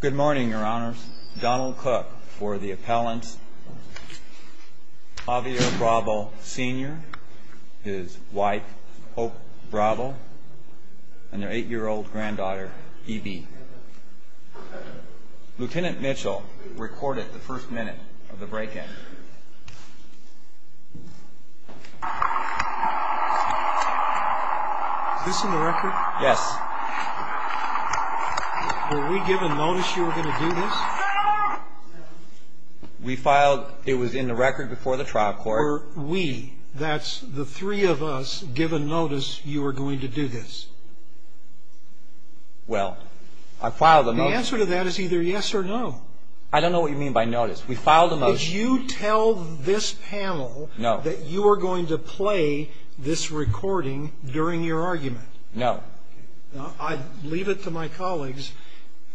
Good morning, Your Honors. Donald Cook for the appellants. Javier Bravo, Sr., his wife, Hope Bravo, and their 8-year-old granddaughter, Evie. Lieutenant Mitchell recorded the first minute of the break-in. Is this in the record? Yes. Were we given notice you were going to do this? We filed, it was in the record before the trial court. Were we, that's the three of us, given notice you were going to do this? Well, I filed a notice. The answer to that is either yes or no. I don't know what you mean by notice. We filed a notice. Did you tell this panel that you were going to play this recording during your argument? No. I leave it to my colleagues.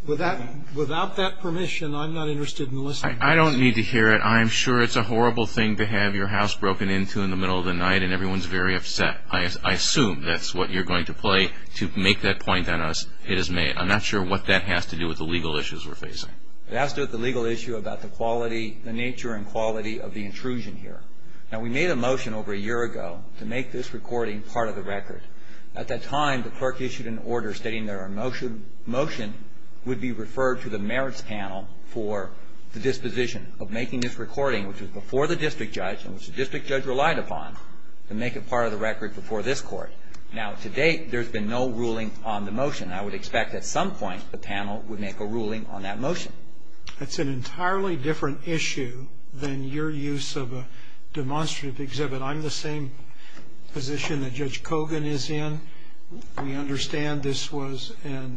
Without that permission, I'm not interested in listening. I don't need to hear it. I'm sure it's a horrible thing to have your house broken into in the middle of the night and everyone's very upset. I assume that's what you're going to play to make that point on us. I'm not sure what that has to do with the legal issues we're facing. It has to do with the legal issue about the quality, the nature and quality of the intrusion here. Now, we made a motion over a year ago to make this recording part of the record. At that time, the clerk issued an order stating that our motion would be referred to the merits panel for the disposition of making this recording, which was before the district judge and which the district judge relied upon, to make it part of the record before this court. Now, to date, there's been no ruling on the motion. I would expect at some point the panel would make a ruling on that motion. That's an entirely different issue than your use of a demonstrative exhibit. I'm the same position that Judge Kogan is in. We understand this was a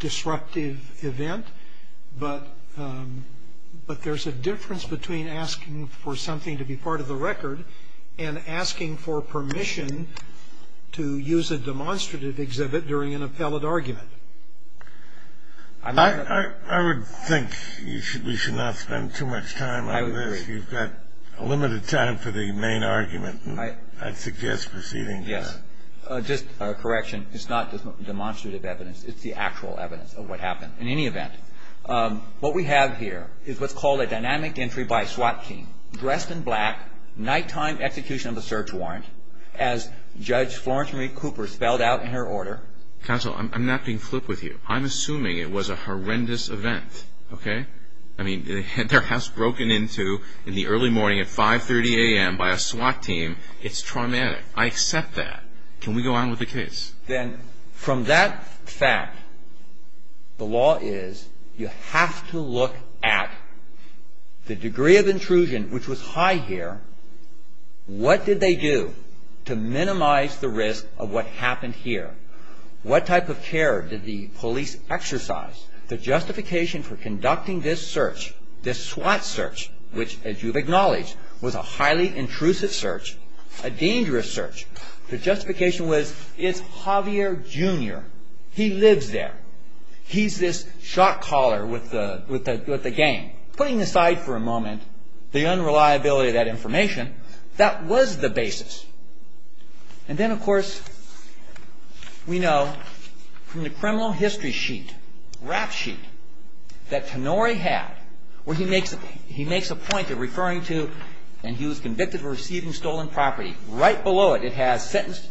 disruptive event, but there's a difference between asking for something to be part of the record and asking for permission to use a demonstrative exhibit during an appellate argument. I would think we should not spend too much time on this. I would agree. You've got limited time for the main argument. I'd suggest proceeding with that. Yes. Just a correction. It's not just demonstrative evidence. It's the actual evidence of what happened. In any event, what we have here is what's called a dynamic entry by a SWAT team, dressed in black, nighttime execution of a search warrant, as Judge Florence Marie Cooper spelled out in her order. Counsel, I'm not being flip with you. I'm assuming it was a horrendous event, okay? I mean, their house broken into in the early morning at 5.30 a.m. by a SWAT team. It's traumatic. I accept that. Can we go on with the case? Then from that fact, the law is you have to look at the degree of intrusion, which was high here. What did they do to minimize the risk of what happened here? What type of care did the police exercise? The justification for conducting this search, this SWAT search, which as you've acknowledged was a highly intrusive search, a dangerous search, the justification was it's Javier, Jr. He lives there. He's this shot caller with the gang. Putting aside for a moment the unreliability of that information, that was the basis. And then, of course, we know from the criminal history sheet, rap sheet, that Tenori had where he makes a point of referring to and he was convicted of receiving stolen property. Right below it, it has sentenced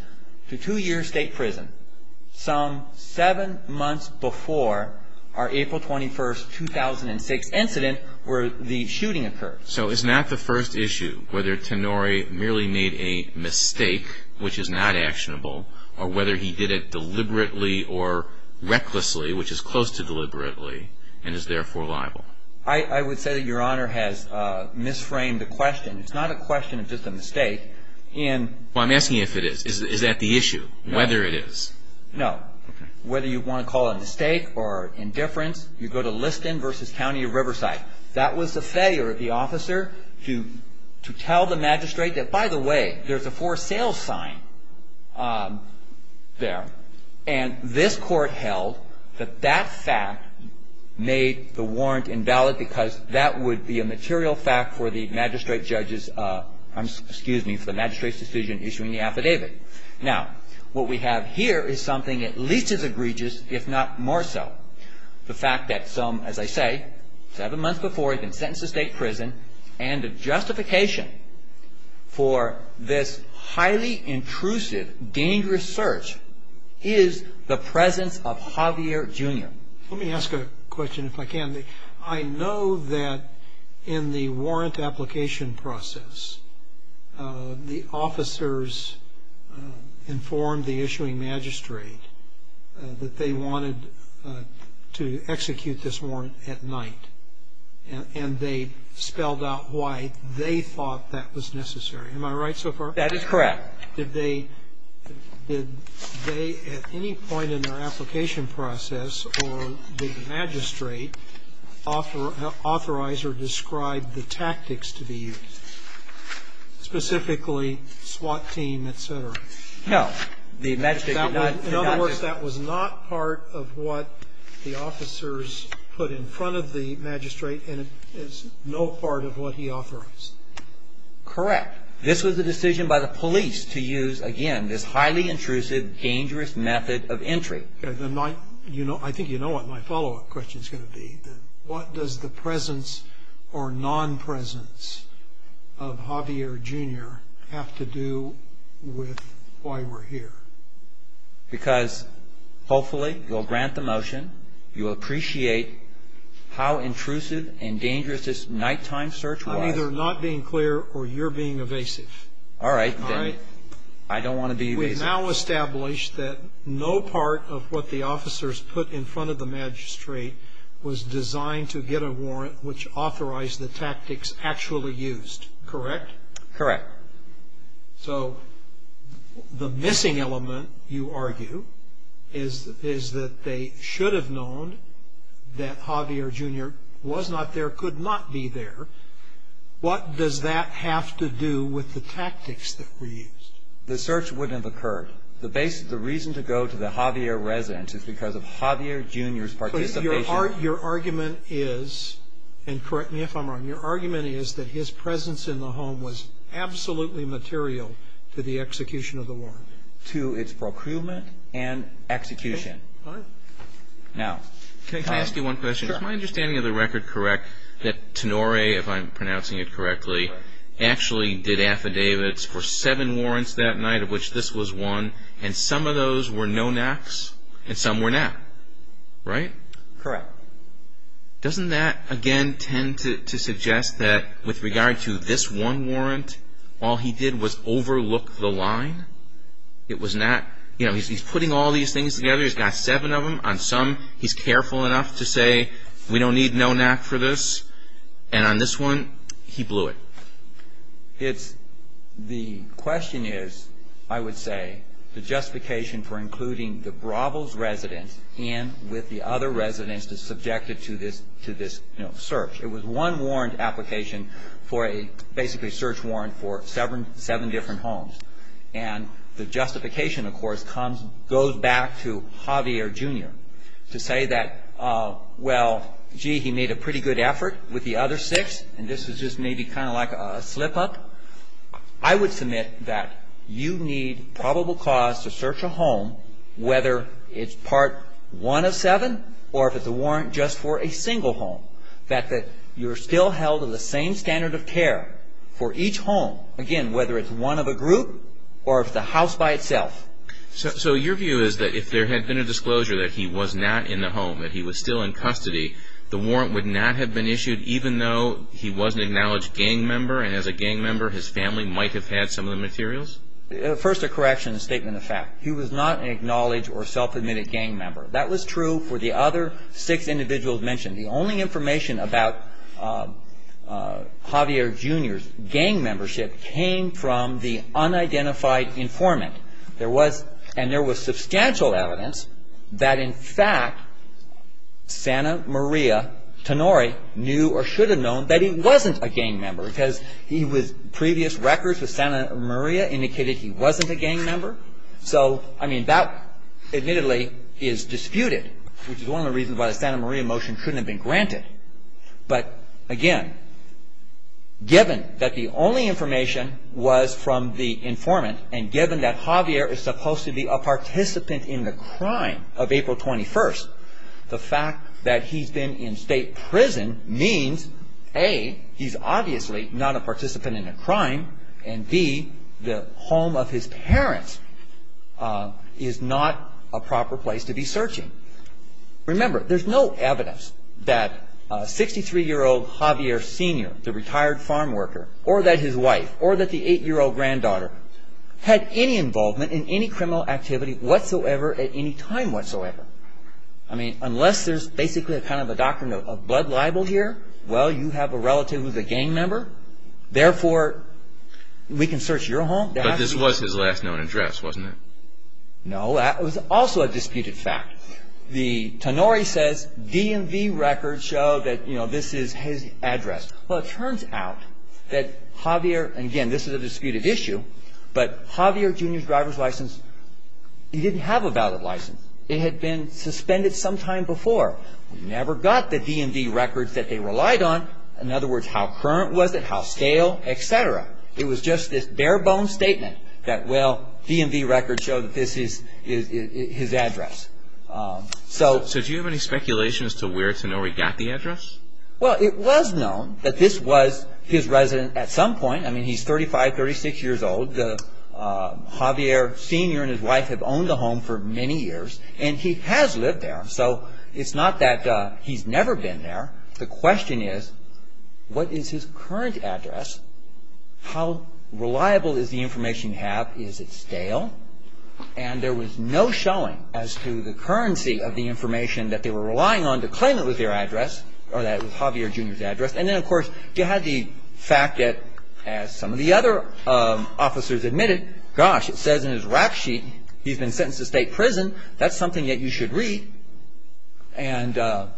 to two years state prison, some seven months before our April 21, 2006 incident where the shooting occurred. So it's not the first issue whether Tenori merely made a mistake, which is not actionable, or whether he did it deliberately or recklessly, which is close to deliberately, and is therefore liable? I would say that Your Honor has misframed the question. Well, I'm asking you if it is. Is that the issue, whether it is? No. Whether you want to call it a mistake or indifference, you go to Liston v. County of Riverside. That was the failure of the officer to tell the magistrate that, by the way, there's a for sale sign there. And this court held that that fact made the warrant invalid because that would be a material fact for the magistrate's decision issuing the affidavit. Now, what we have here is something at least as egregious, if not more so. The fact that some, as I say, seven months before he's been sentenced to state prison, and the justification for this highly intrusive, dangerous search is the presence of Javier, Jr. Let me ask a question, if I can. I know that in the warrant application process, the officers informed the issuing magistrate that they wanted to execute this warrant at night. And they spelled out why they thought that was necessary. Am I right so far? That is correct. Did they at any point in their application process or the magistrate authorize or describe the tactics to be used, specifically SWAT team, et cetera? No. The magistrate did not. In other words, that was not part of what the officers put in front of the magistrate, and it's no part of what he authorized. Correct. This was a decision by the police to use, again, this highly intrusive, dangerous method of entry. I think you know what my follow-up question is going to be. What does the presence or non-presence of Javier, Jr. have to do with why we're here? Because hopefully you'll grant the motion, you'll appreciate how intrusive and dangerous this nighttime search was. I'm either not being clear or you're being evasive. All right. I don't want to be evasive. We've now established that no part of what the officers put in front of the magistrate was designed to get a warrant which authorized the tactics actually used, correct? Correct. So the missing element, you argue, is that they should have known that Javier, Jr. was not there, could not be there. What does that have to do with the tactics that were used? The search wouldn't have occurred. The reason to go to the Javier residence is because of Javier, Jr.'s participation. But your argument is, and correct me if I'm wrong, your argument is that his presence in the home was absolutely material to the execution of the warrant. It was absolutely material to its procurement and execution. All right. Now, Tom. Can I ask you one question? Sure. Is my understanding of the record correct that Tenore, if I'm pronouncing it correctly, actually did affidavits for seven warrants that night, of which this was one, and some of those were no-naps and some were nap, right? Correct. Doesn't that, again, tend to suggest that with regard to this one warrant, all he did was overlook the line? It was not, you know, he's putting all these things together. He's got seven of them. On some, he's careful enough to say, we don't need no-nap for this. And on this one, he blew it. The question is, I would say, the justification for including the Bravos residence in with the other residence is subjected to this search. It was one warrant application for a basically search warrant for seven different homes. And the justification, of course, goes back to Javier, Jr. to say that, well, gee, he made a pretty good effort with the other six, and this is just maybe kind of like a slip-up. I would submit that you need probable cause to search a home, whether it's part one of seven or if it's a warrant just for a single home, that you're still held to the same standard of care for each home, again, whether it's one of a group or if it's a house by itself. So your view is that if there had been a disclosure that he was not in the home, that he was still in custody, the warrant would not have been issued, even though he was an acknowledged gang member, and as a gang member, his family might have had some of the materials? First, a correction, a statement of fact. He was not an acknowledged or self-admitted gang member. That was true for the other six individuals mentioned. The only information about Javier, Jr.'s gang membership came from the unidentified informant. And there was substantial evidence that, in fact, Santa Maria Tenori knew or should have known that he wasn't a gang member because previous records with Santa Maria indicated he wasn't a gang member. So, I mean, that admittedly is disputed, which is one of the reasons why the Santa Maria motion shouldn't have been granted. But, again, given that the only information was from the informant and given that Javier is supposed to be a participant in the crime of April 21st, the fact that he's been in state prison means, A, he's obviously not a participant in a crime, and B, the home of his parents is not a proper place to be searching. Remember, there's no evidence that 63-year-old Javier, Sr., the retired farm worker, or that his wife, or that the 8-year-old granddaughter had any involvement in any criminal activity whatsoever at any time whatsoever. I mean, unless there's basically kind of a doctrine of blood libel here, well, you have a relative who's a gang member. Therefore, we can search your home. But this was his last known address, wasn't it? No, that was also a disputed fact. The Tenori says DMV records show that this is his address. Well, it turns out that Javier, and again, this is a disputed issue, but Javier, Jr.'s driver's license, he didn't have a valid license. It had been suspended sometime before. We never got the DMV records that they relied on, in other words, how current was it, how stale, et cetera. It was just this bare-bone statement that, well, DMV records show that this is his address. So do you have any speculation as to where Tenori got the address? Well, it was known that this was his residence at some point. I mean, he's 35, 36 years old. Javier, Sr. and his wife have owned the home for many years, and he has lived there. So it's not that he's never been there. The question is, what is his current address? How reliable is the information you have? Is it stale? And there was no showing as to the currency of the information that they were relying on to claim it was their address or that it was Javier, Jr.'s address. And then, of course, you had the fact that, as some of the other officers admitted, gosh, it says in his rack sheet he's been sentenced to state prison. That's something that you should read. And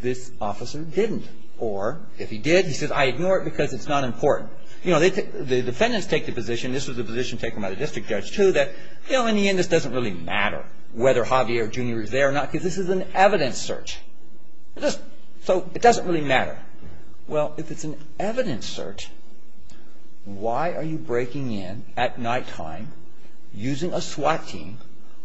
this officer didn't. Or if he did, he says, I ignore it because it's not important. You know, the defendants take the position, this was the position taken by the district judge, too, that, you know, in the end, this doesn't really matter whether Javier, Jr. is there or not because this is an evidence search. So it doesn't really matter. Well, if it's an evidence search, why are you breaking in at nighttime using a SWAT team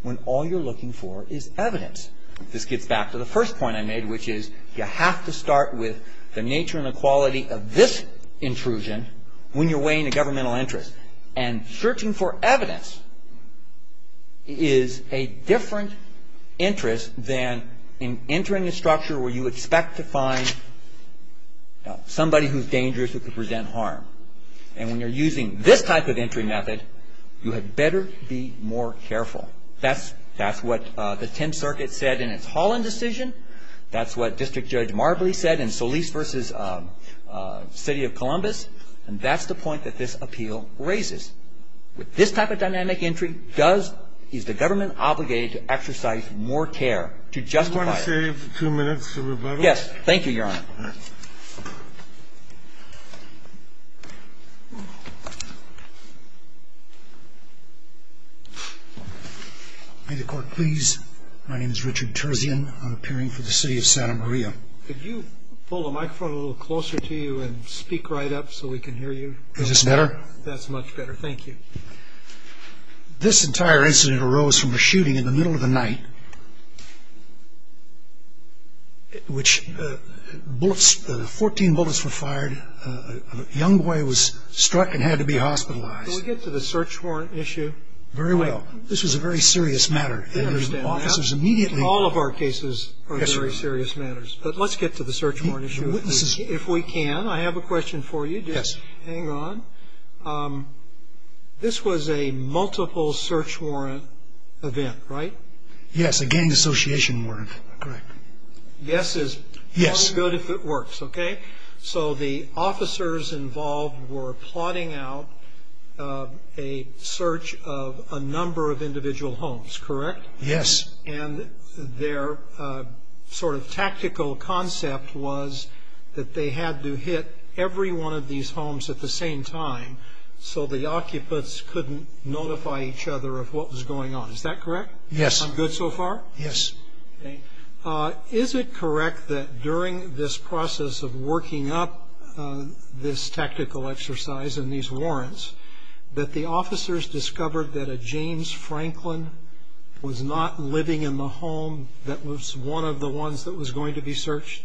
when all you're looking for is evidence? This gets back to the first point I made, which is you have to start with the nature and the quality of this intrusion when you're weighing a governmental interest. And searching for evidence is a different interest than entering a structure where you expect to find somebody who's dangerous who could present harm. And when you're using this type of entry method, you had better be more careful. That's what the Tenth Circuit said in its Holland decision. That's what District Judge Marbley said in Solis v. City of Columbus. And that's the point that this appeal raises. With this type of dynamic entry, is the government obligated to exercise more care to justify it? Do you want to save two minutes for Roberto? Yes. Thank you, Your Honor. May the Court please? My name is Richard Terzian. I'm appearing for the City of Santa Maria. Could you pull the microphone a little closer to you and speak right up so we can hear you? Is this better? That's much better. Thank you. This entire incident arose from a shooting in the middle of the night. Fourteen bullets were fired. A young boy was struck and had to be hospitalized. Can we get to the search warrant issue? Very well. This was a very serious matter. All of our cases are very serious matters. But let's get to the search warrant issue if we can. I have a question for you. Yes. Hang on. This was a multiple search warrant event, right? Yes, a gang association warrant. Correct. Yes is only good if it works, okay? So the officers involved were plotting out a search of a number of individual homes, correct? Yes. And their sort of tactical concept was that they had to hit every one of these homes at the same time so the occupants couldn't notify each other of what was going on. Is that correct? Yes. I'm good so far? Yes. Okay. Is it correct that during this process of working up this tactical exercise and these warrants that the officers discovered that a James Franklin was not living in the home that was one of the ones that was going to be searched?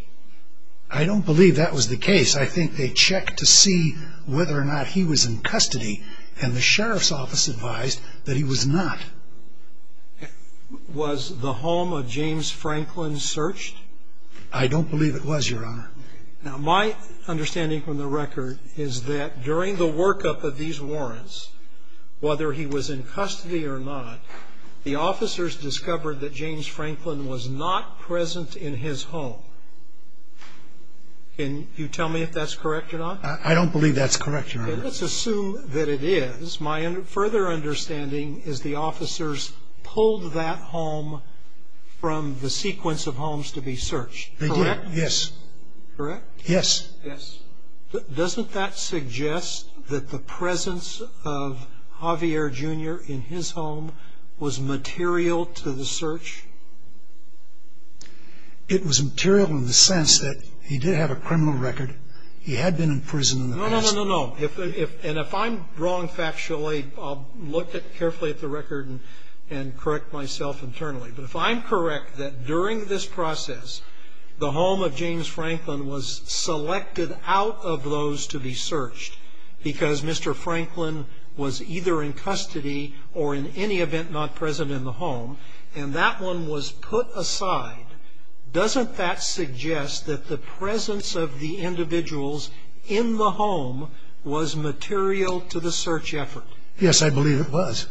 I don't believe that was the case. I think they checked to see whether or not he was in custody, and the sheriff's office advised that he was not. Was the home of James Franklin searched? I don't believe it was, Your Honor. Now, my understanding from the record is that during the workup of these warrants, whether he was in custody or not, the officers discovered that James Franklin was not present in his home. Can you tell me if that's correct or not? I don't believe that's correct, Your Honor. Okay. Let's assume that it is. My further understanding is the officers pulled that home from the sequence of homes to be searched, correct? They did, yes. Correct? Yes. Yes. Doesn't that suggest that the presence of Javier Jr. in his home was material to the search? It was material in the sense that he did have a criminal record. He had been in prison in the past. No, no, no, no, no. And if I'm wrong factually, I'll look carefully at the record and correct myself internally. But if I'm correct that during this process, the home of James Franklin was selected out of those to be searched because Mr. Franklin was either in custody or in any event not present in the home, and that one was put aside, doesn't that suggest that the presence of the individuals in the home was material to the search effort? Yes, I believe it was.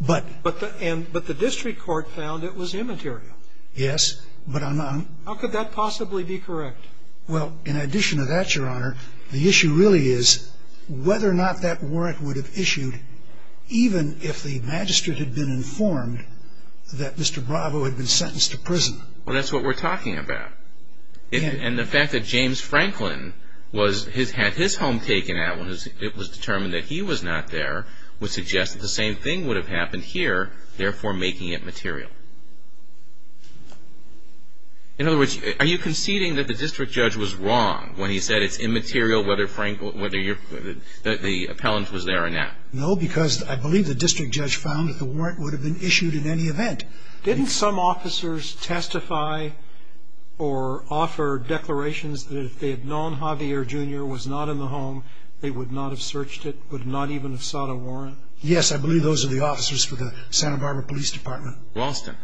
But the district court found it was immaterial. Yes. How could that possibly be correct? Well, in addition to that, Your Honor, the issue really is whether or not that warrant would have issued even if the magistrate had been informed that Mr. Bravo had been sentenced to prison. Well, that's what we're talking about. And the fact that James Franklin had his home taken out when it was determined that he was not there would suggest that the same thing would have happened here, therefore making it material. In other words, are you conceding that the district judge was wrong when he said it's immaterial whether the appellant was there or not? No, because I believe the district judge found that the warrant would have been issued in any event. Didn't some officers testify or offer declarations that if they had known Javier Jr. was not in the home, they would not have searched it, would not even have sought a warrant? Yes, I believe those are the officers for the Santa Barbara Police Department. Ralston.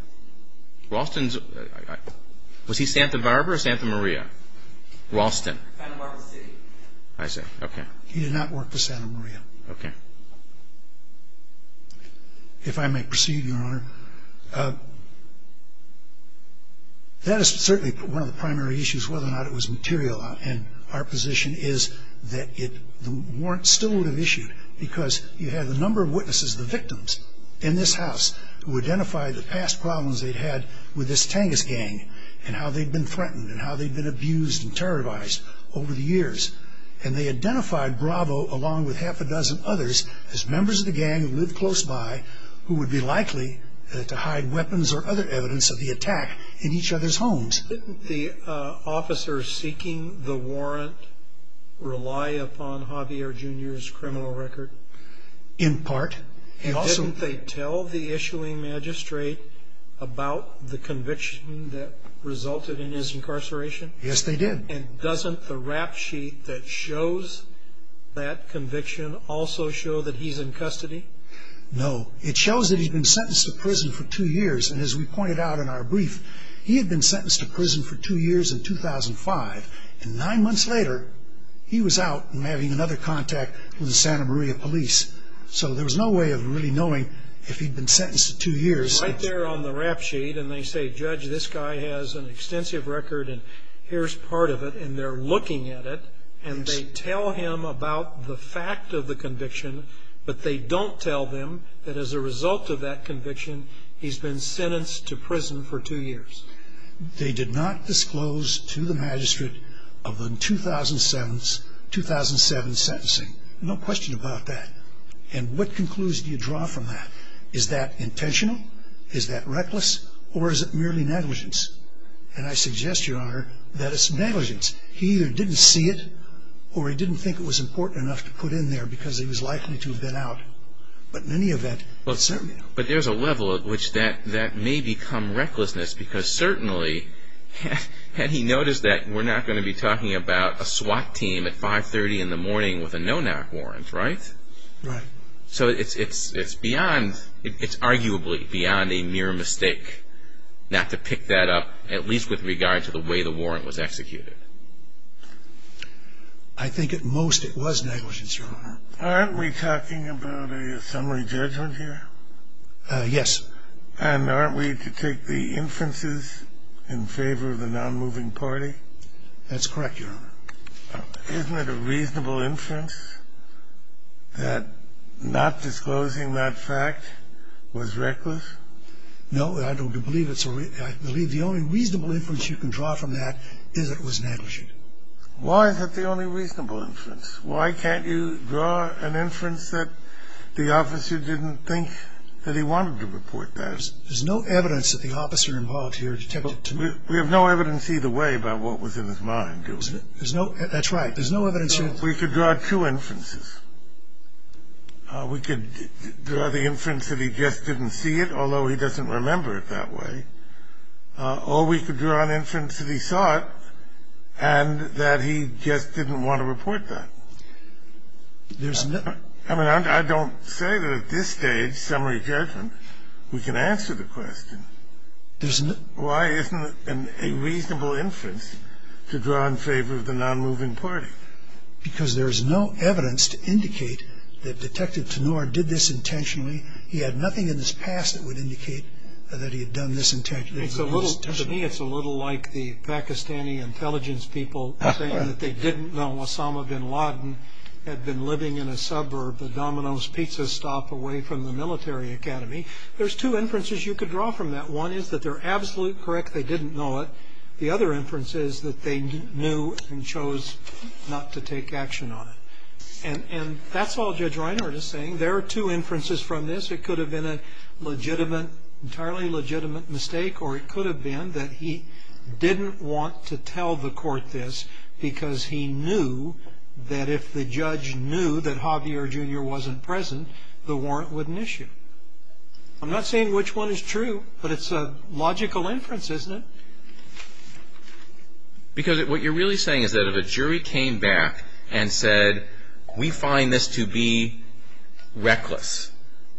Was he Santa Barbara or Santa Maria? Ralston. Santa Barbara City. I see. Okay. He did not work for Santa Maria. Okay. If I may proceed, Your Honor. That is certainly one of the primary issues, whether or not it was material. Our position is that the warrant still would have been issued because you have a number of witnesses, the victims in this house, who identified the past problems they'd had with this Tangus gang and how they'd been threatened and how they'd been abused and terrorized over the years. And they identified Bravo along with half a dozen others as members of the gang who lived close by who would be likely to hide weapons or other evidence of the attack in each other's homes. Didn't the officers seeking the warrant rely upon Javier Jr.'s criminal record? In part. Didn't they tell the issuing magistrate about the conviction that resulted in his incarceration? Yes, they did. And doesn't the rap sheet that shows that conviction also show that he's in custody? No. It shows that he'd been sentenced to prison for two years. And as we pointed out in our brief, he had been sentenced to prison for two years in 2005. And nine months later, he was out and having another contact with the Santa Maria police. So there was no way of really knowing if he'd been sentenced to two years. Right there on the rap sheet, and they say, Judge, this guy has an extensive record, and here's part of it. And they're looking at it, and they tell him about the fact of the conviction, but they don't tell them that as a result of that conviction, he's been sentenced to prison for two years. They did not disclose to the magistrate of the 2007 sentencing. No question about that. And what conclusion do you draw from that? Is that intentional? Is that reckless? Or is it merely negligence? And I suggest, Your Honor, that it's negligence. He either didn't see it, or he didn't think it was important enough to put in there, because he was likely to have been out. But in any event, certainly not. But there's a level at which that may become recklessness, because certainly, and he noticed that we're not going to be talking about a SWAT team at 5.30 in the morning with a no-knock warrant, right? Right. So it's arguably beyond a mere mistake not to pick that up, at least with regard to the way the warrant was executed. I think at most it was negligence, Your Honor. Aren't we talking about a summary judgment here? Yes. And aren't we to take the inferences in favor of the non-moving party? That's correct, Your Honor. Isn't it a reasonable inference that not disclosing that fact was reckless? No. I believe the only reasonable inference you can draw from that is that it was negligent. Why is that the only reasonable inference? Why can't you draw an inference that the officer didn't think that he wanted to report that? There's no evidence that the officer involved here detected to me. We have no evidence either way about what was in his mind, do we? That's right. There's no evidence. We could draw two inferences. We could draw the inference that he just didn't see it, although he doesn't remember it that way. Or we could draw an inference that he saw it and that he just didn't want to report that. I mean, I don't say that at this stage, summary judgment, we can answer the question. Why isn't it a reasonable inference to draw in favor of the non-moving party? Because there is no evidence to indicate that Detective Tanur did this intentionally. He had nothing in his past that would indicate that he had done this intentionally. To me, it's a little like the Pakistani intelligence people saying that they didn't know Osama bin Laden had been living in a suburb, a Domino's Pizza stop away from the military academy. There's two inferences you could draw from that. One is that they're absolutely correct. They didn't know it. The other inference is that they knew and chose not to take action on it. And that's all Judge Reinhardt is saying. There are two inferences from this. It could have been an entirely legitimate mistake, or it could have been that he didn't want to tell the court this because he knew that if the judge knew that Javier Jr. wasn't present, the warrant wouldn't issue. I'm not saying which one is true, but it's a logical inference, isn't it? Because what you're really saying is that if a jury came back and said, we find this to be reckless,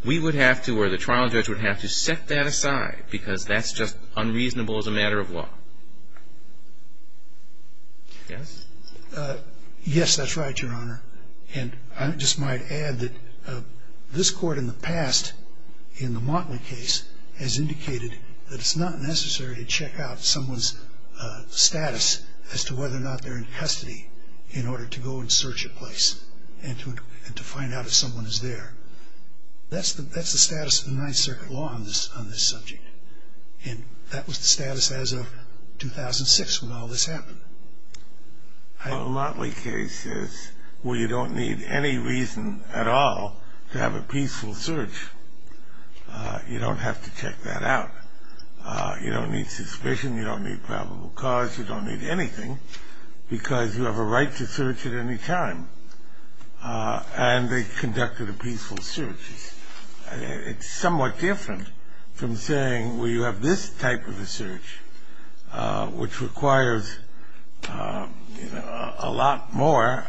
we would have to or the trial judge would have to set that aside because that's just unreasonable as a matter of law. Yes? Yes, that's right, Your Honor. And I just might add that this court in the past, in the Motley case, has indicated that it's not necessary to check out someone's status as to whether or not they're in custody in order to go and search a place and to find out if someone is there. That's the status of the Ninth Circuit law on this subject. And that was the status as of 2006 when all this happened. Well, the Motley case is where you don't need any reason at all to have a peaceful search. You don't have to check that out. You don't need suspicion. You don't need probable cause. You don't need anything because you have a right to search at any time. And they conducted a peaceful search. It's somewhat different from saying, well, you have this type of a search, which requires a lot more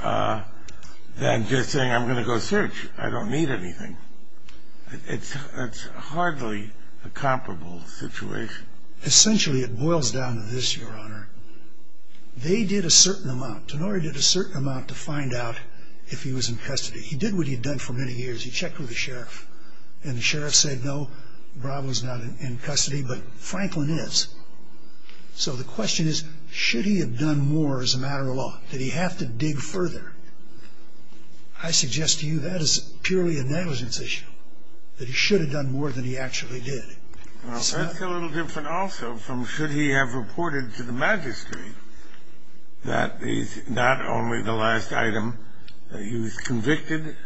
than just saying, I'm going to go search. I don't need anything. It's hardly a comparable situation. Essentially, it boils down to this, Your Honor. They did a certain amount. Tenorio did a certain amount to find out if he was in custody. He did what he had done for many years. He checked with the sheriff. And the sheriff said, no, Bravo's not in custody, but Franklin is. So the question is, should he have done more as a matter of law? Did he have to dig further? I suggest to you that is purely a negligence issue, that he should have done more than he actually did. That's a little different also from should he have reported to the magistrate that not only the last item, he was convicted,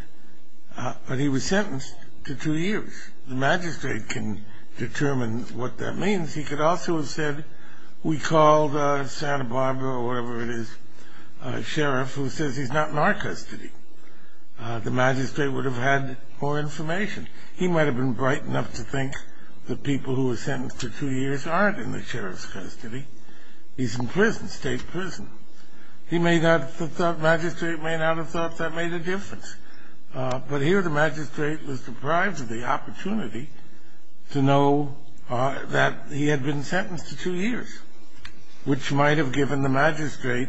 but he was sentenced to two years. The magistrate can determine what that means. He could also have said, we called Santa Barbara or whatever it is, a sheriff who says he's not in our custody. The magistrate would have had more information. He might have been bright enough to think that people who were sentenced to two years aren't in the sheriff's custody. He's in prison, state prison. The magistrate may not have thought that made a difference. But here the magistrate was deprived of the opportunity to know that he had been sentenced to two years, which might have given the magistrate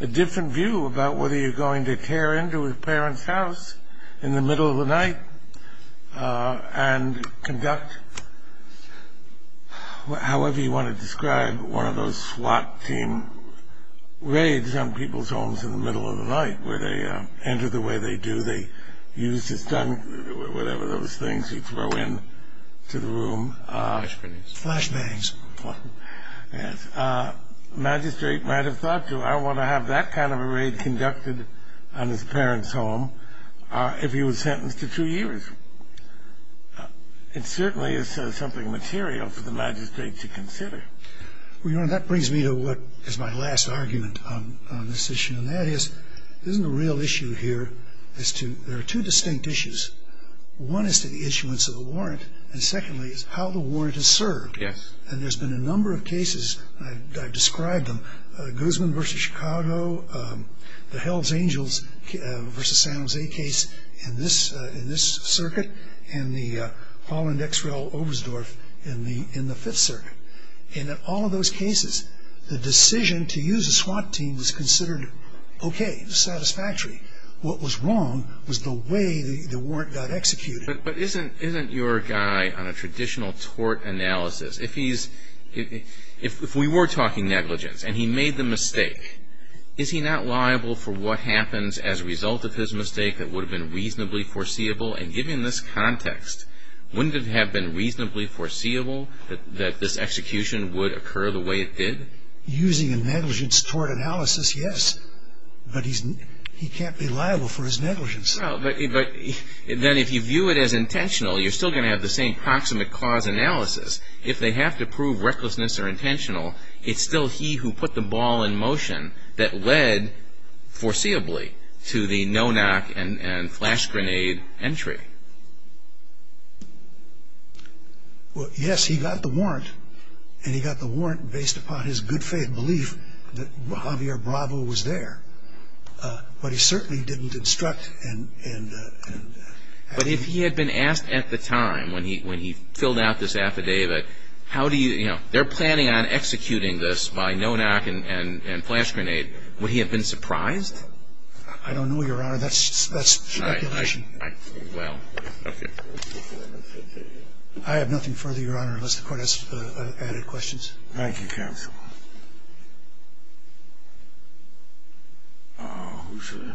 a different view about whether you're going to tear into a parent's house in the middle of the night and conduct however you want to describe one of those SWAT team raids on people's homes in the middle of the night, where they enter the way they do. They use a stun gun, whatever those things you throw into the room. Flashbangs. Flashbangs. The magistrate might have thought, do I want to have that kind of a raid conducted on his parents' home if he was sentenced to two years? It certainly is something material for the magistrate to consider. Well, Your Honor, that brings me to what is my last argument on this issue, and that is, isn't the real issue here is there are two distinct issues. One is to the issuance of a warrant, and secondly is how the warrant is served. Yes. And there's been a number of cases, and I've described them, Guzman v. Chicago, the Hells Angels v. San Jose case in this circuit, and the Holland X-Rail Oberstdorf in the Fifth Circuit. In all of those cases, the decision to use a SWAT team was considered okay, satisfactory. What was wrong was the way the warrant got executed. But isn't your guy on a traditional tort analysis, if we were talking negligence and he made the mistake, is he not liable for what happens as a result of his mistake that would have been reasonably foreseeable? And given this context, wouldn't it have been reasonably foreseeable that this execution would occur the way it did? Using a negligence tort analysis, yes. But he can't be liable for his negligence. Well, but then if you view it as intentional, you're still going to have the same proximate clause analysis. If they have to prove recklessness or intentional, it's still he who put the ball in motion that led foreseeably to the no-knock and flash grenade entry. Well, yes, he got the warrant, and he got the warrant based upon his good faith belief that Javier Bravo was there. But he certainly didn't instruct and have him. But if he had been asked at the time when he filled out this affidavit, how do you, you know, they're planning on executing this by no-knock and flash grenade, would he have been surprised? I don't know, Your Honor. That's speculation. Well, okay. I have nothing further, Your Honor, unless the Court has added questions. Thank you, counsel. Who's this? He has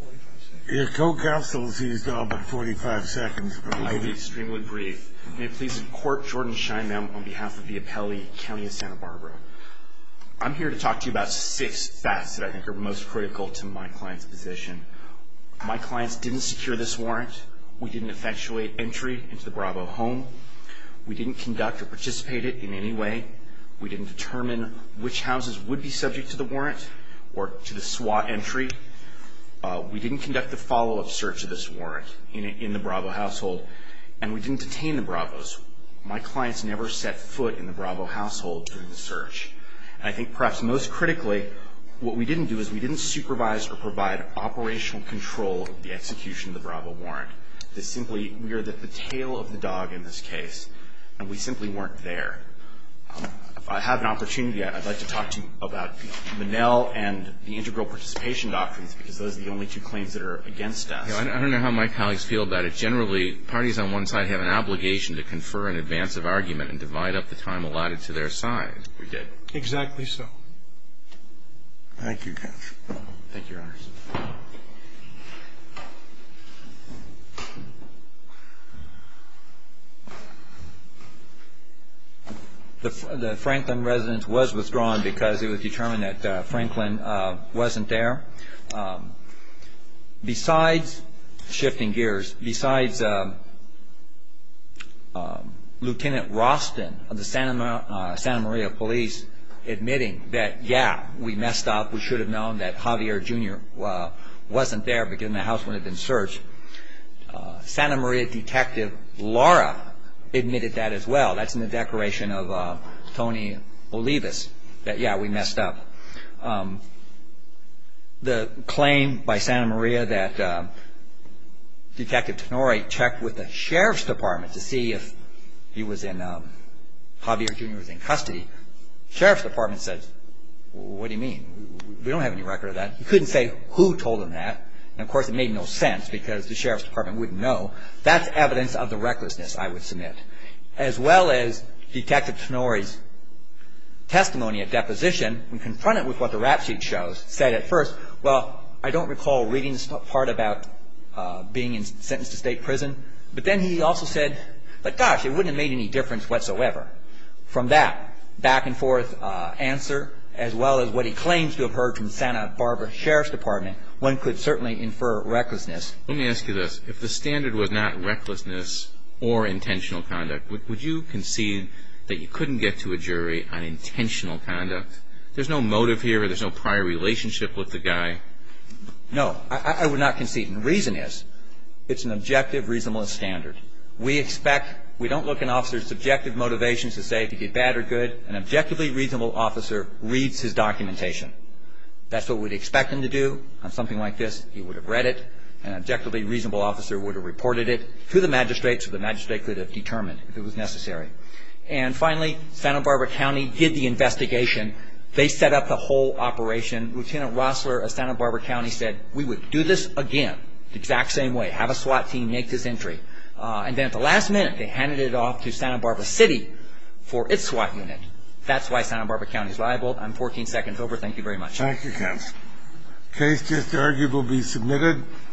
45 seconds. Your co-counsel, he's got about 45 seconds. I'd be extremely brief. May it please the Court, Jordan Scheinbaum on behalf of the Appellee County of Santa Barbara. I'm here to talk to you about six facts that I think are most critical to my client's position. My clients didn't secure this warrant. We didn't effectuate entry into the Bravo home. We didn't conduct or participate in it in any way. We didn't determine which houses would be subject to the warrant or to the SWAT entry. We didn't conduct a follow-up search of this warrant in the Bravo household. And we didn't detain the Bravos. My clients never set foot in the Bravo household during the search. And I think perhaps most critically, what we didn't do is we didn't supervise or provide operational control of the execution of the Bravo warrant. This simply, we are the tail of the dog in this case. And we simply weren't there. If I have an opportunity, I'd like to talk to you about Monell and the integral participation doctrines, because those are the only two claims that are against us. I don't know how my colleagues feel about it. Generally, parties on one side have an obligation to confer in advance of argument and divide up the time allotted to their side. Exactly so. Thank you, Judge. Thank you, Your Honors. Thank you. The Franklin residence was withdrawn because it was determined that Franklin wasn't there. Shifting gears, besides Lieutenant Roston of the Santa Maria Police admitting that, yeah, we messed up, we should have known that Javier, Jr. wasn't there because the house wouldn't have been searched. Santa Maria Detective Laura admitted that as well. That's in the declaration of Tony Olivas that, yeah, we messed up. The claim by Santa Maria that Detective Tenori checked with the Sheriff's Department to see if Javier, Jr. was in custody. Sheriff's Department said, what do you mean? We don't have any record of that. He couldn't say who told him that. And, of course, it made no sense because the Sheriff's Department wouldn't know. That's evidence of the recklessness, I would submit. As well as Detective Tenori's testimony at deposition, when confronted with what the rap sheet shows, said at first, well, I don't recall reading this part about being sentenced to state prison. But then he also said, but gosh, it wouldn't have made any difference whatsoever. From that back-and-forth answer, as well as what he claims to have heard from Santa Barbara Sheriff's Department, one could certainly infer recklessness. Let me ask you this. If the standard was not recklessness or intentional conduct, would you concede that you couldn't get to a jury on intentional conduct? There's no motive here. There's no prior relationship with the guy. No, I would not concede. The reason is, it's an objective, reasonable standard. We expect, we don't look an officer's subjective motivations to say if he did bad or good. An objectively reasonable officer reads his documentation. That's what we'd expect him to do on something like this. He would have read it. An objectively reasonable officer would have reported it to the magistrate so the magistrate could have determined if it was necessary. And, finally, Santa Barbara County did the investigation. They set up the whole operation. Lieutenant Rossler of Santa Barbara County said, we would do this again, the exact same way, have a SWAT team make this entry. And then at the last minute, they handed it off to Santa Barbara City for its SWAT unit. That's why Santa Barbara County is liable. I'm 14 seconds over. Thank you very much. Thank you, counsel. The case just argued will be submitted.